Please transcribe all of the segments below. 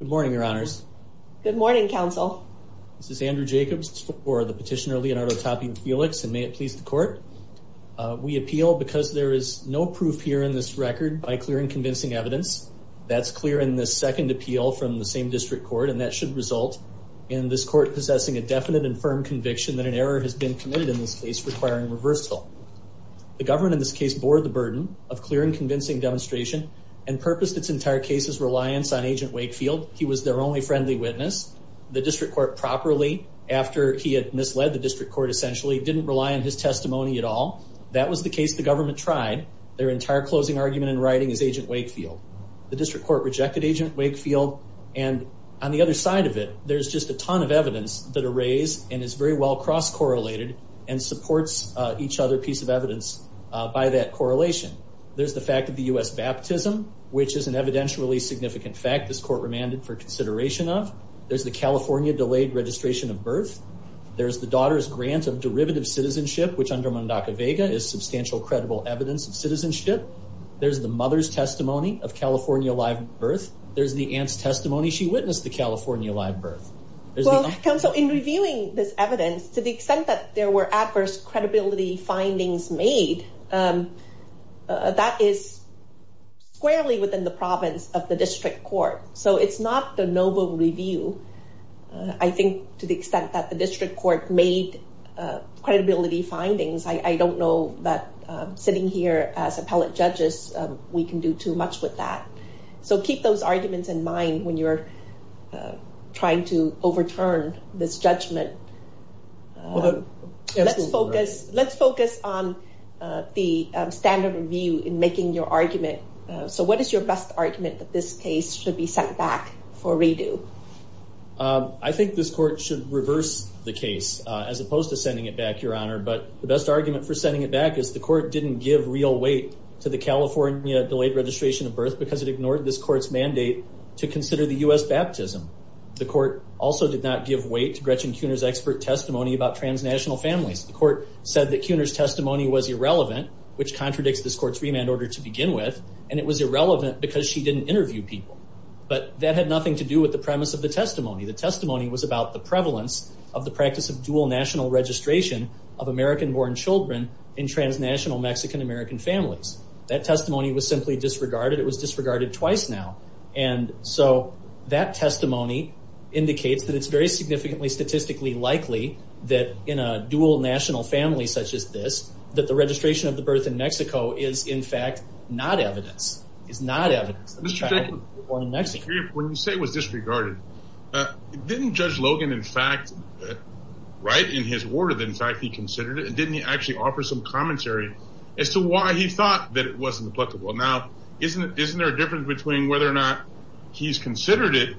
Good morning, your honors. Good morning, counsel. This is Andrew Jacobs for the petitioner Leonardo Tapia-Felix and may it please the court. We appeal because there is no proof here in this record by clear and convincing evidence. That's clear in this second appeal from the same district court and that should result in this court possessing a definite and firm conviction that an error has been committed in this case requiring reversal. The government in this case bore the burden of clear and convincing demonstration and purposed its entire case's reliance on agent Wakefield. He was their only friendly witness. The district court properly after he had misled the district court essentially didn't rely on his testimony at all. That was the case the government tried. Their entire closing argument in writing is agent Wakefield. The district court rejected agent Wakefield and on the other side of it there's just a ton of evidence that are raised and is very well cross-correlated and supports each other piece of evidence by that correlation. There's the fact of the U.S. baptism which is an evidentially significant fact this court remanded for consideration of. There's the California delayed registration of birth. There's the daughter's grant of derivative citizenship which under Mundaka Vega is substantial credible evidence of citizenship. There's the mother's testimony of California live birth. There's the aunt's testimony she witnessed the California live birth. Well counsel in reviewing this evidence to the extent that there were adverse credibility findings made that is squarely within the province of the district court. So it's not the novel review. I think to the extent that the district court made credibility findings I don't know that sitting here as appellate judges we can do too much with that. So keep those arguments in mind when you're trying to overturn this Let's focus on the standard review in making your argument. So what is your best argument that this case should be sent back for redo? I think this court should reverse the case as opposed to sending it back your honor but the best argument for sending it back is the court didn't give real weight to the California delayed registration of birth because it ignored this court's mandate to consider the U.S. baptism. The court also did not give weight to Gretchen expert testimony about transnational families. The court said that Kuner's testimony was irrelevant which contradicts this court's remand order to begin with and it was irrelevant because she didn't interview people but that had nothing to do with the premise of the testimony. The testimony was about the prevalence of the practice of dual national registration of American born children in transnational Mexican American families. That testimony was simply disregarded. It was disregarded twice now and so that testimony indicates that it's very significantly statistically likely that in a dual national family such as this that the registration of the birth in Mexico is in fact not evidence. It's not evidence. When you say it was disregarded didn't Judge Logan in fact write in his word in fact he considered it and didn't he actually offer some commentary as to why he thought that it wasn't applicable. Now isn't it isn't there a difference between whether or not he's considered it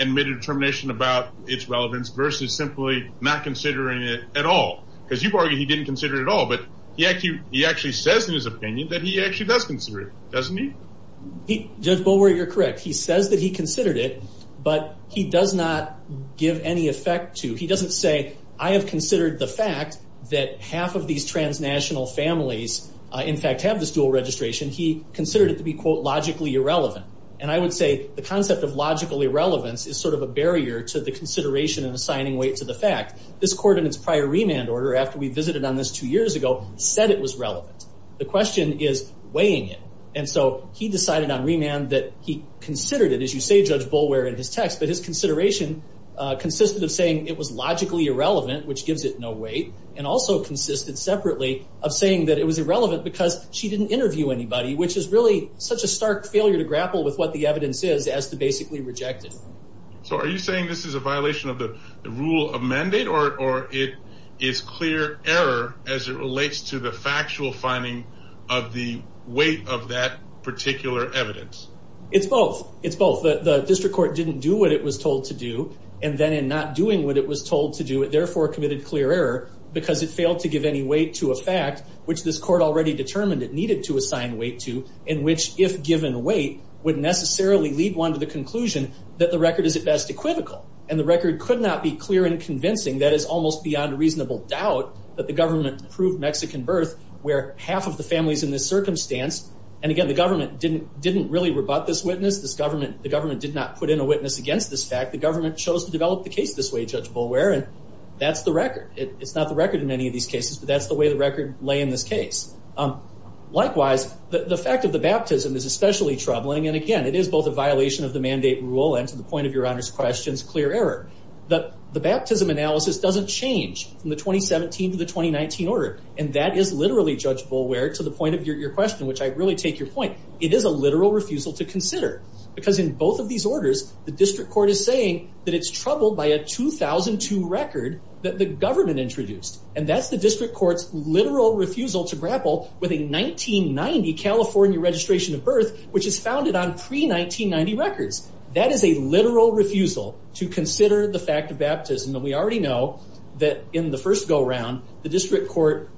and made a determination about its relevance versus simply not considering it at all because you've argued he didn't consider it at all but yet you he actually says in his opinion that he actually does consider it doesn't he? Judge Bowyer you're correct he says that he considered it but he does not give any effect to he doesn't say I have considered the fact that half of these transnational families in fact have this dual registration he considered it to be logically irrelevant and I would say the concept of logical irrelevance is sort of a barrier to the consideration and assigning weight to the fact this coordinates prior remand order after we visited on this two years ago said it was relevant. The question is weighing it and so he decided on remand that he considered it as you say Judge Bowyer in his text but his consideration consisted of saying it was logically irrelevant which gives it no weight and also consisted separately of saying that it was irrelevant because she didn't interview anybody which is really such a stark failure to grapple with what the evidence is as to basically reject it. So are you saying this is a violation of the rule of mandate or it is clear error as it relates to the factual finding of the weight of that particular evidence? It's both it's both the district court didn't do what it was told to do and then in not doing what it was told to do it therefore committed clear error because it failed to give any weight to a fact which this court already determined it needed to assign weight to in which if given weight would necessarily lead one to the conclusion that the record is at best equivocal and the record could not be clear and convincing that is almost beyond reasonable doubt that the government proved Mexican birth where half of the families in this circumstance and again the government didn't didn't really rebut this witness this government the government did not put in a witness against this fact the government chose to develop the case this way Judge Bowyer and that's the record it's not the record in any of these cases but that's the way the record lay in this case. Likewise the fact of the baptism is especially troubling and again it is both a violation of the mandate rule and to the point of your honor's questions clear error that the baptism analysis doesn't change from the 2017 to the 2019 order and that is literally Judge Bowyer to the point of your question which I really take your point it is a literal refusal to consider because in both of these orders the district court is saying that it's troubled by a 2002 record that the government introduced and that's the district courts literal refusal to grapple with a 1990 California registration of birth which is founded on pre 1990 records that is a literal refusal to consider the fact of baptism and we already know that in the first go-around the district court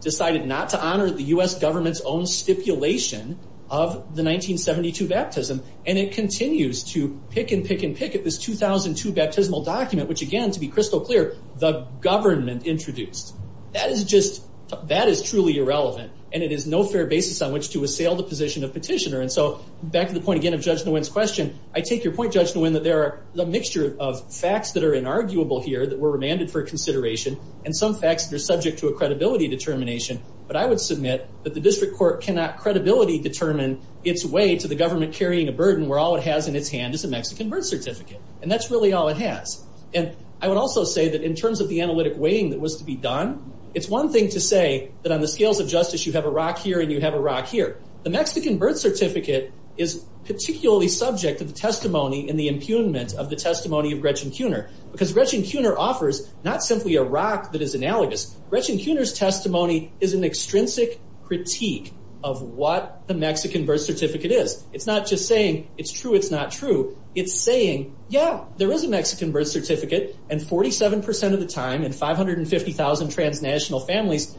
decided not to honor the US government's own stipulation of the 1972 baptism and it continues to pick and pick and pick at this 2002 baptismal document which again to be crystal clear the government introduced that is just that is truly irrelevant and it is no fair basis on which to assail the position of petitioner and so back to the point again of Judge Nguyen's question I take your point Judge Nguyen that there are the mixture of facts that are inarguable here that were remanded for consideration and some facts that are subject to a credibility determination but I would submit that the district court cannot credibility determine its way to the government carrying a burden where all it has in its hand is a Mexican birth certificate and that's really all it has and I would also say that in terms of the analytic weighing that was to be done it's one thing to say that on the scales of justice you have a rock here and you have a rock here the Mexican birth certificate is particularly subject to the testimony in the impugnment of the testimony of Gretchen Kuhner because Gretchen Kuhner offers not simply a rock that is analogous Gretchen Kuhner's testimony is an extrinsic critique of what the Mexican birth certificate is it's not just saying it's true it's not true it's saying yeah there is a Mexican birth certificate and 47% of the time and 550,000 transnational families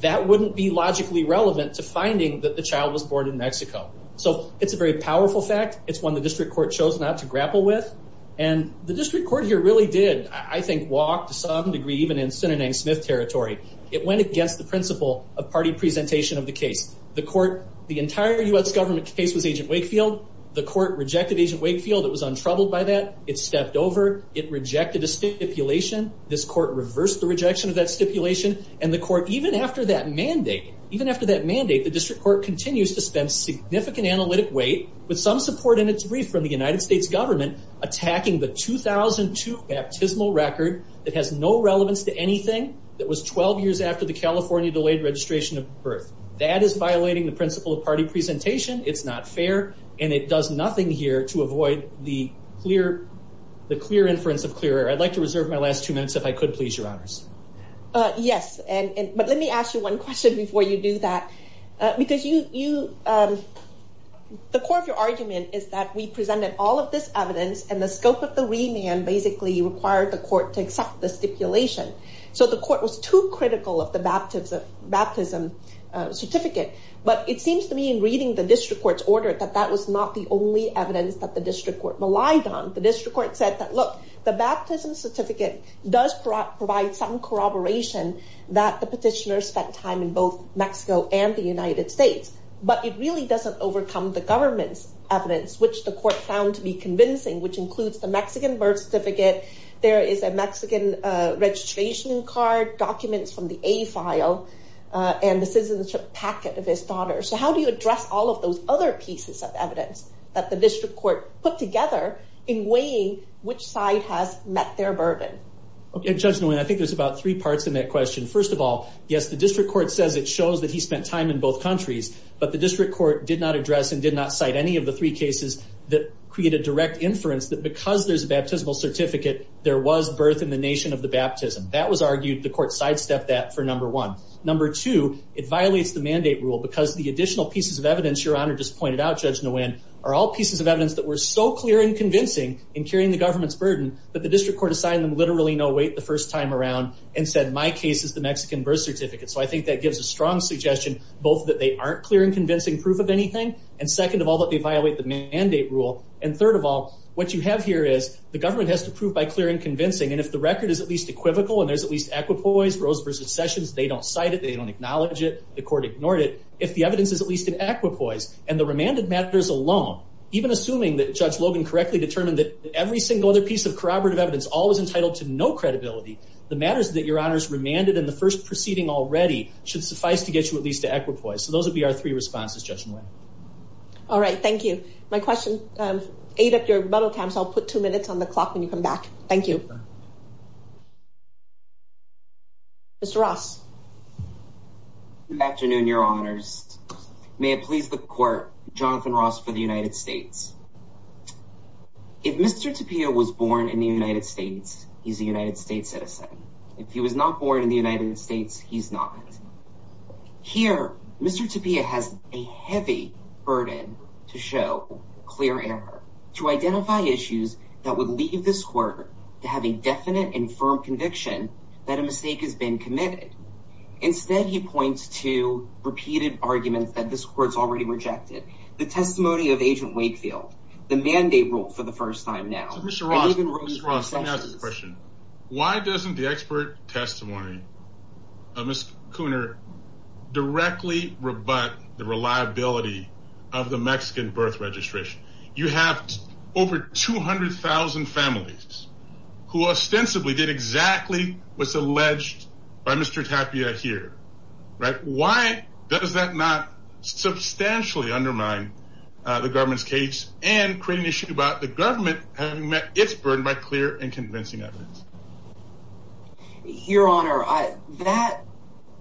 that wouldn't be logically relevant to finding that the child was born in Mexico so it's a very powerful fact it's one the district court chose not to grapple with and the district court here really did I think walk to some degree even in Sinanang Smith territory it went against the principle of party presentation of the case the court the entire US government case was agent Wakefield the court rejected agent Wakefield it was untroubled by that it stepped over it rejected a stipulation this court reversed the rejection of that stipulation and the court even after that mandate even after that mandate the district court continues to spend significant analytic weight with some support in its brief from the United States government attacking the 2002 baptismal record that has no relevance to anything that was 12 years after the California delayed registration of birth that is violating the principle of party presentation it's not fair and it does nothing here to avoid the clear the clear inference of clear I'd like to reserve my last two minutes if I could please your honors yes and but let me ask you one question before you do that because you you the core of your argument is that we presented all of this evidence and the scope of the remand basically required the court to accept the stipulation so the court was too critical of the baptism of baptism certificate but it ordered that that was not the only evidence that the district court relied on the district court said that look the baptism certificate does provide some corroboration that the petitioner spent time in both Mexico and the United States but it really doesn't overcome the government's evidence which the court found to be convincing which includes the Mexican birth certificate there is a Mexican registration card documents from the a file and the citizenship packet of his daughter so how do you address all of those other pieces of evidence that the district court put together in weighing which side has met their burden okay judgment I think there's about three parts in that question first of all yes the district court says it shows that he spent time in both countries but the district court did not address and did not cite any of the three cases that create a direct inference that because there's a baptismal certificate there was birth in the nation of the baptism that was argued the court sidestepped that for number one number two it violates the mandate rule because the additional pieces of evidence your honor just pointed out judge Nguyen are all pieces of evidence that were so clear and convincing in carrying the government's burden but the district court assigned them literally no wait the first time around and said my case is the Mexican birth certificate so I think that gives a strong suggestion both that they aren't clear and convincing proof of anything and second of all that they violate the mandate rule and third of all what you have here is the government has to prove by clear and convincing and if the record is at least equivocal and there's at least equipoise Rose versus Sessions they don't cite it they don't acknowledge it the court ignored it if the evidence is at least in equipoise and the remanded matters alone even assuming that judge Logan correctly determined that every single other piece of corroborative evidence all was entitled to no credibility the matters that your honors remanded in the first proceeding already should suffice to get you at least to equipoise so those would be our three responses judgment all right thank you my question ate up your bottle camps I'll put two minutes on the clock when may it please the court Jonathan Ross for the United States if mr. Tapia was born in the United States he's a United States citizen if he was not born in the United States he's not here mr. Tapia has a heavy burden to show clear air to identify issues that would leave this quarter to have a definite and firm conviction that a mistake has been committed instead he points to repeated arguments that this courts already rejected the testimony of agent Wakefield the mandate rule for the first time now why doesn't the expert testimony of miss Cooner directly rebut the reliability of the Mexican birth registration you have over 200,000 families who ostensibly did exactly what's alleged by mr. Tapia here right why does that not substantially undermine the government's case and create an issue about the government having met its burden by clear and convincing evidence your honor I that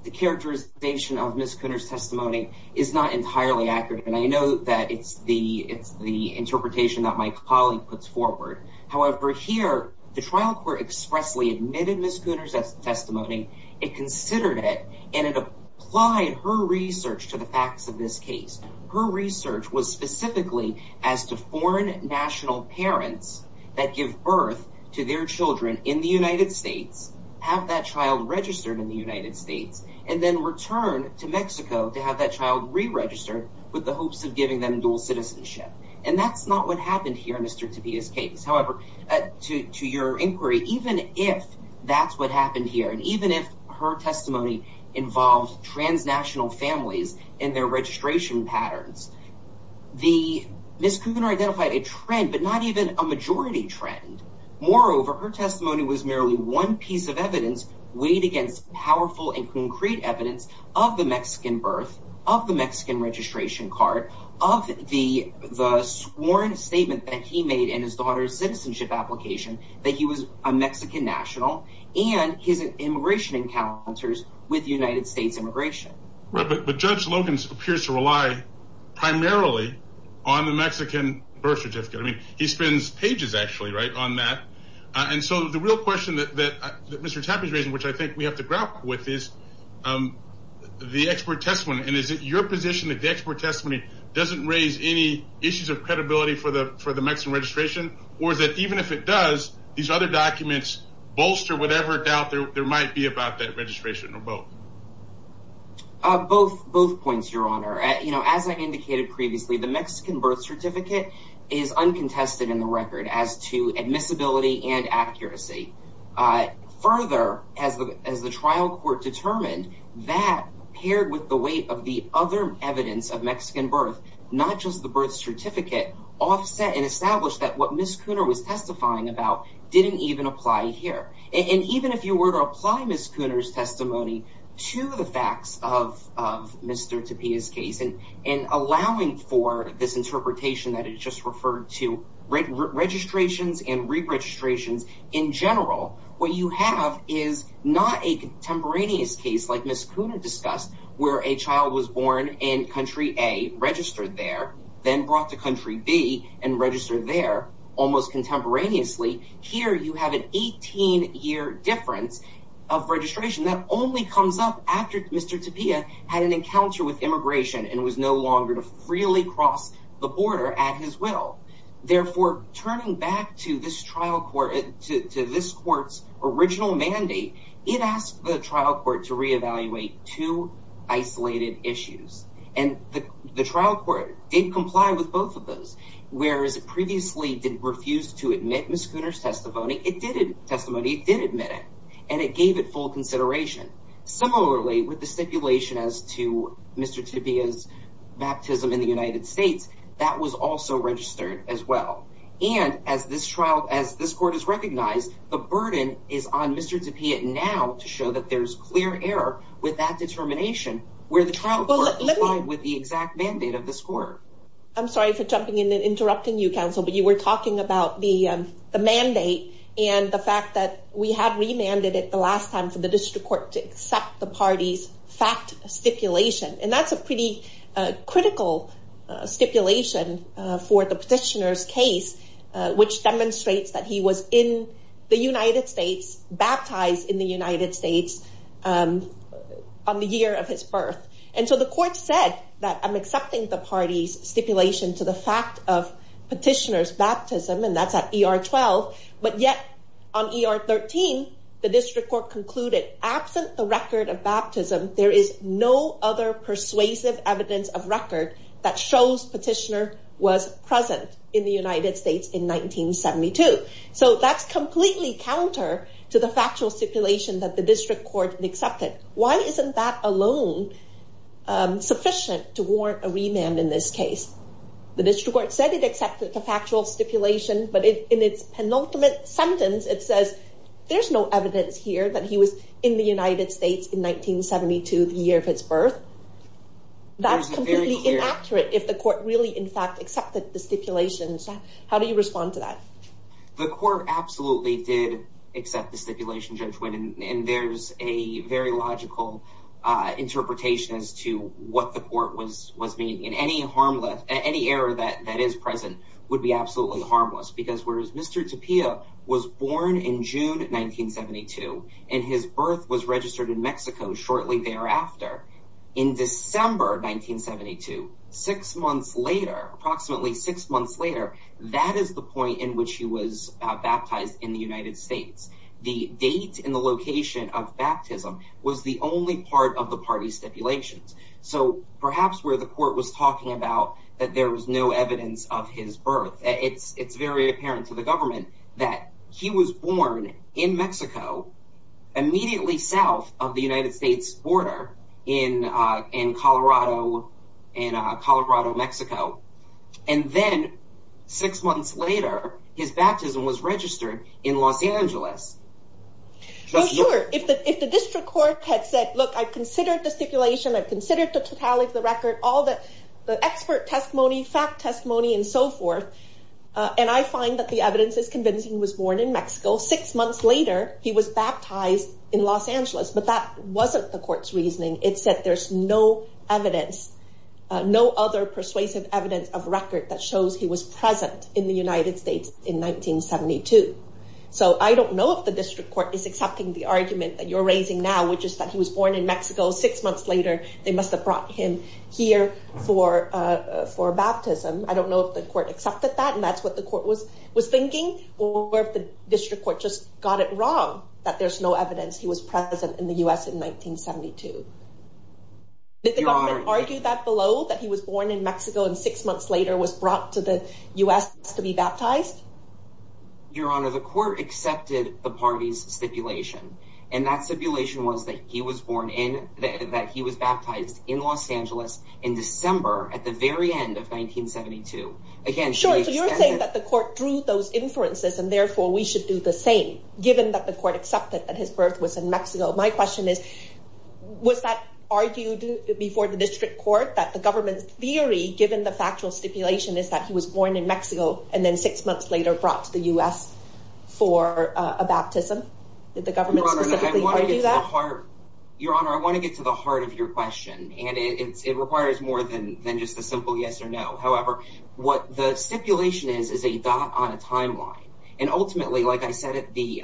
the characterization of miss Cooner's testimony is not entirely accurate and I know that it's the it's the interpretation that my colleague puts forward however here the trial court expressly admitted miss Cooner's as testimony it considered it and it applied her research to the facts of this case her research was specifically as to foreign national parents that give birth to their children in the United States have that child registered in the United States and then return to Mexico to have that child re-registered with the hopes of giving them dual citizenship and that's not what happened here mr. to be his case however to your inquiry even if that's what happened here and even if her testimony involved transnational families in their registration patterns the miss Cooner identified a trend but not even a majority trend moreover her testimony was merely one piece of evidence weighed against powerful and concrete evidence of the Mexican birth of the Mexican registration card of the the sworn statement that he made in his daughter's citizenship application that he was a Mexican national and his immigration encounters with United States immigration but judge Logan's appears to rely primarily on the Mexican birth certificate I mean he spends pages actually right on that and so the real question that mr. tap is raising which I think we have to grapple with is the expert testimony and is it your position that the expert testimony doesn't raise any issues of credibility for the for the Mexican registration or is it even if it does these other documents bolster whatever doubt there might be about that registration or both both both points your honor you know as I indicated previously the Mexican birth certificate is uncontested in the record as to admissibility and accuracy I further as the as the trial court determined that paired with the weight of the other evidence of Mexican birth not just the birth certificate offset and establish that what Miss Cooner was testifying about didn't even apply here and even if you were to apply Miss Cooner's testimony to the facts of Mr. Tapia's case and and allowing for this interpretation that is just referred to registrations and re-registrations in general what you have is not a was born in country a registered there then brought to country B and registered there almost contemporaneously here you have an 18 year difference of registration that only comes up after mr. Tapia had an encounter with immigration and was no longer to freely cross the border at his will therefore turning back to this trial court to this courts original mandate it asked the isolated issues and the trial court did comply with both of those whereas it previously didn't refuse to admit Miss Cooner's testimony it didn't testimony did admit it and it gave it full consideration similarly with the stipulation as to mr. tapia's baptism in the United States that was also registered as well and as this trial as this court is recognized the burden is on mr. tapia now to show that there's clear error with that determination where the trial with the exact mandate of the score I'm sorry for jumping in and interrupting you counsel but you were talking about the mandate and the fact that we have remanded it the last time for the district court to accept the party's fact stipulation and that's a pretty critical stipulation for the case which demonstrates that he was in the United States baptized in the United States on the year of his birth and so the court said that I'm accepting the party's stipulation to the fact of petitioners baptism and that's at er 12 but yet on er 13 the district court concluded absent the record of baptism there is no other persuasive evidence of record that shows petitioner was present in the United States in 1972 so that's completely counter to the factual stipulation that the district court accepted why isn't that alone sufficient to warrant a remand in this case the district court said it accepted the factual stipulation but in its penultimate sentence it says there's no evidence here that he was in the United States in 1972 the year of his birth that's completely inaccurate if the court really in fact accepted the stipulations how do you respond to that the court absolutely did accept the stipulation judgment and there's a very logical interpretation as to what the court was was being in any harmless any error that that is present would be absolutely harmless because whereas mr. Tapia was born in June 1972 and his in December 1972 six months later approximately six months later that is the point in which he was baptized in the United States the date in the location of baptism was the only part of the party stipulations so perhaps where the court was talking about that there was no evidence of his birth it's it's very apparent to the government that he was born in Mexico immediately south of the United States border in in Colorado and Colorado Mexico and then six months later his baptism was registered in Los Angeles if the district court had said look I considered the stipulation I've considered the totality of the record all that the expert testimony fact testimony and so forth and I find that the evidence is convincing was born in Mexico six months later he was baptized in Los Angeles but that wasn't the court's reasoning it said there's no evidence no other persuasive evidence of record that shows he was present in the United States in 1972 so I don't know if the district court is accepting the argument that you're raising now which is that he was born in Mexico six months later they must have brought him here for for baptism I don't know if the court accepted that and that's what the court was was thinking or if the evidence he was present in the US in 1972 did they argue that below that he was born in Mexico and six months later was brought to the US to be baptized your honor the court accepted the party's stipulation and that stipulation was that he was born in that he was baptized in Los Angeles in December at the very end of 1972 again so you're saying that the court drew those inferences and therefore we should do the same given that the court accepted that his birth was in Mexico my question is was that argued before the district court that the government's theory given the factual stipulation is that he was born in Mexico and then six months later brought to the US for a baptism did the government do that your honor I want to get to the heart of your question and it requires more than just a simple yes or no however what the stipulation is is a dot on a timeline and ultimately like I said at the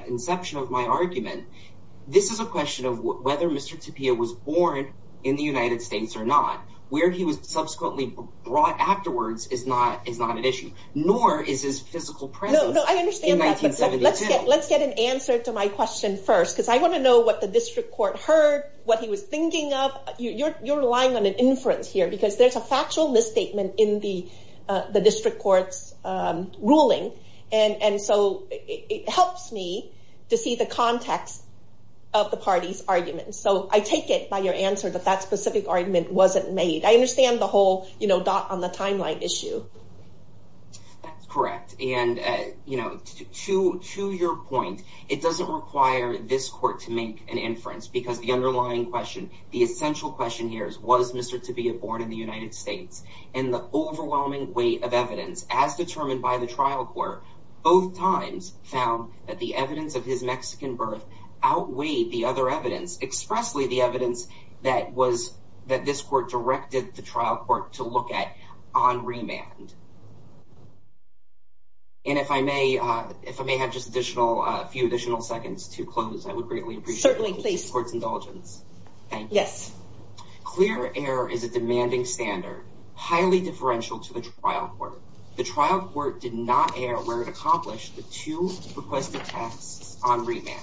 this is a question of whether mr. Tapia was born in the United States or not where he was subsequently brought afterwards is not is not an issue nor is his physical presence let's get an answer to my question first because I want to know what the district court heard what he was thinking of you're relying on an inference here because there's a factual misstatement in the of the party's argument so I take it by your answer that that specific argument wasn't made I understand the whole you know dot on the timeline issue that's correct and you know to to your point it doesn't require this court to make an inference because the underlying question the essential question here is was mr. to be a board in the United States and the overwhelming weight of evidence as determined by the trial court both times found that the evidence of his Mexican birth outweighed the other evidence expressly the evidence that was that this court directed the trial court to look at on remand and if I may if I may have just additional a few additional seconds to close I would greatly certainly please courts indulgence yes clear error is a demanding standard highly differential to the trial court the trial court did not air where to accomplish the two requested tasks on remand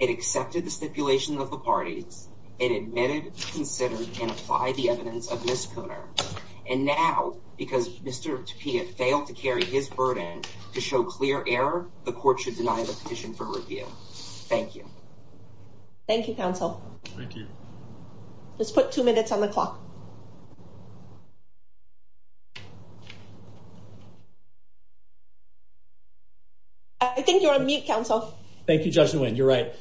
it accepted the stipulation of the parties it admitted considered and apply the evidence of misconduct and now because mr. to Pia failed to carry his burden to show clear error the court should deny the petition for review thank you thank you counsel thank you let's put two minutes on the clock I think you're on mute counsel thank you judgment you're right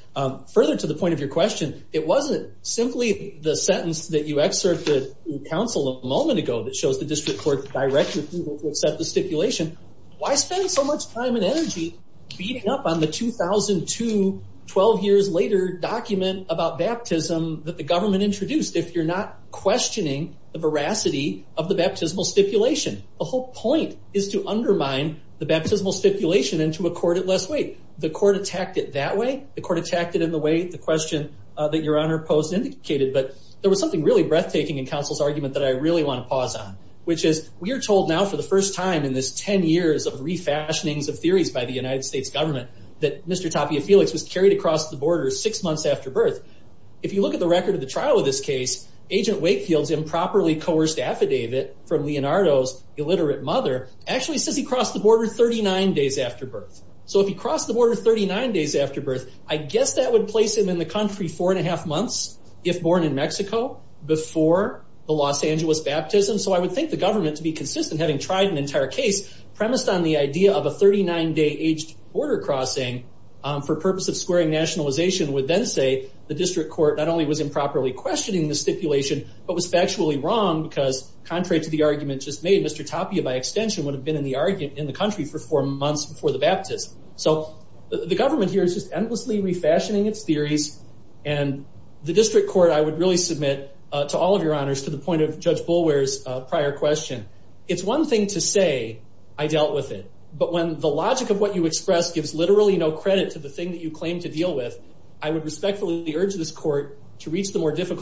further to the point of your question it wasn't simply the sentence that you excerpt the council a moment ago that shows the district court directly to accept the stipulation why spend so much time and energy beating up on the 2002 12 years later document about baptism that the government introduced if you're not questioning the veracity of the baptismal stipulation the whole point is to undermine the baptismal stipulation into a court at less weight the court attacked it that way the court attacked it in the way the question that your honor post indicated but there was something really breathtaking in counsel's argument that I really want to pause on which is we are told now for the first time in this ten years of refashionings of theories by the United States government that mr. Tapia Felix was carried across the border six months after birth if you look at the record of the trial of this case agent Wakefield's affidavit from Leonardo's illiterate mother actually says he crossed the border 39 days after birth so if he crossed the border 39 days after birth I guess that would place him in the country four and a half months if born in Mexico before the Los Angeles baptism so I would think the government to be consistent having tried an entire case premised on the idea of a 39 day aged border crossing for purpose of squaring nationalization would then say the district court not only was improperly questioning the stipulation but was factually wrong because contrary to the argument just made mr. Tapia by extension would have been in the argument in the country for four months before the baptism so the government here is just endlessly refashioning its theories and the district court I would really submit to all of your honors to the point of judge Bulwer's prior question it's one thing to say I dealt with it but when the logic of what you express gives literally no credit to the thing that you claim to deal with I would respectfully urge this court to really fail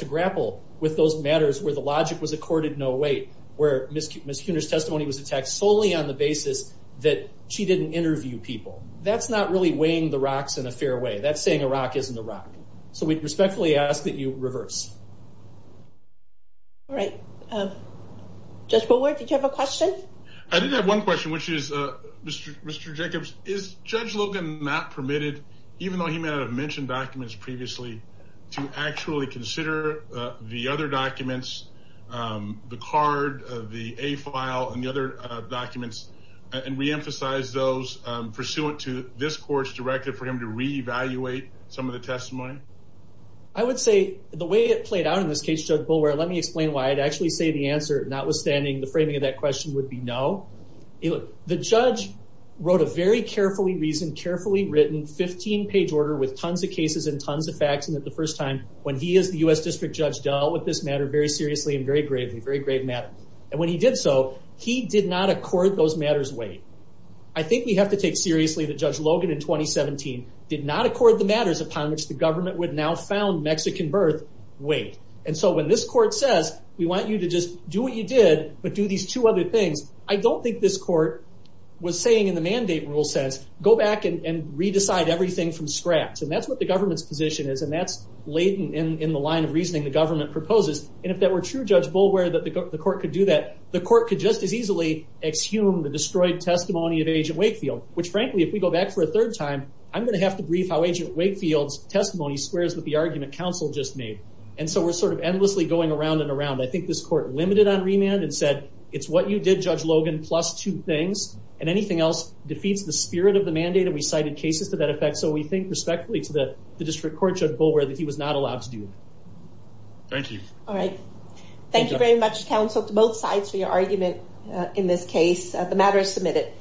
to grapple with those matters where the logic was accorded no weight where miscuse miscounters testimony was attacked solely on the basis that she didn't interview people that's not really weighing the rocks in a fair way that's saying a rock isn't a rock so we respectfully ask that you reverse all right just forward did you have a question I didn't have one question which is mr. Jacobs is judge Logan not permitted even though he mentioned documents previously to actually consider the other documents the card of the a file and the other documents and reemphasize those pursuant to this court's directive for him to reevaluate some of the testimony I would say the way it played out in this case judge Bulwer let me explain why I'd actually say the answer notwithstanding the framing of that question would be no you look the judge wrote a very carefully reasoned carefully written 15 page order with tons of cases and tons of facts and at the first time when he is the u.s. district judge dealt with this matter very seriously and very gravely very grave matter and when he did so he did not accord those matters weight I think we have to take seriously the judge Logan in 2017 did not accord the matters upon which the government would now found Mexican birth weight and so when this court says we want you to just do what you did but do these two other things I don't think this court was saying in the mandate rule says go back and re-decide everything from scratch and that's what the government's position is and that's latent in the line of reasoning the government proposes and if that were true judge Bulwer that the court could do that the court could just as easily exhume the destroyed testimony of agent Wakefield which frankly if we go back for a third time I'm gonna have to brief how agent Wakefield's testimony squares with the argument counsel just made and so we're sort of endlessly going around and around I think this court limited on remand and said it's what you did judge Logan plus two things and anything else defeats the spirit of the mandate and we cited cases to that effect so we think respectfully to the the district court judge Bulwer that he was not allowed to do thank you all right thank you very much counsel to both sides for your argument in this case the matter is submitted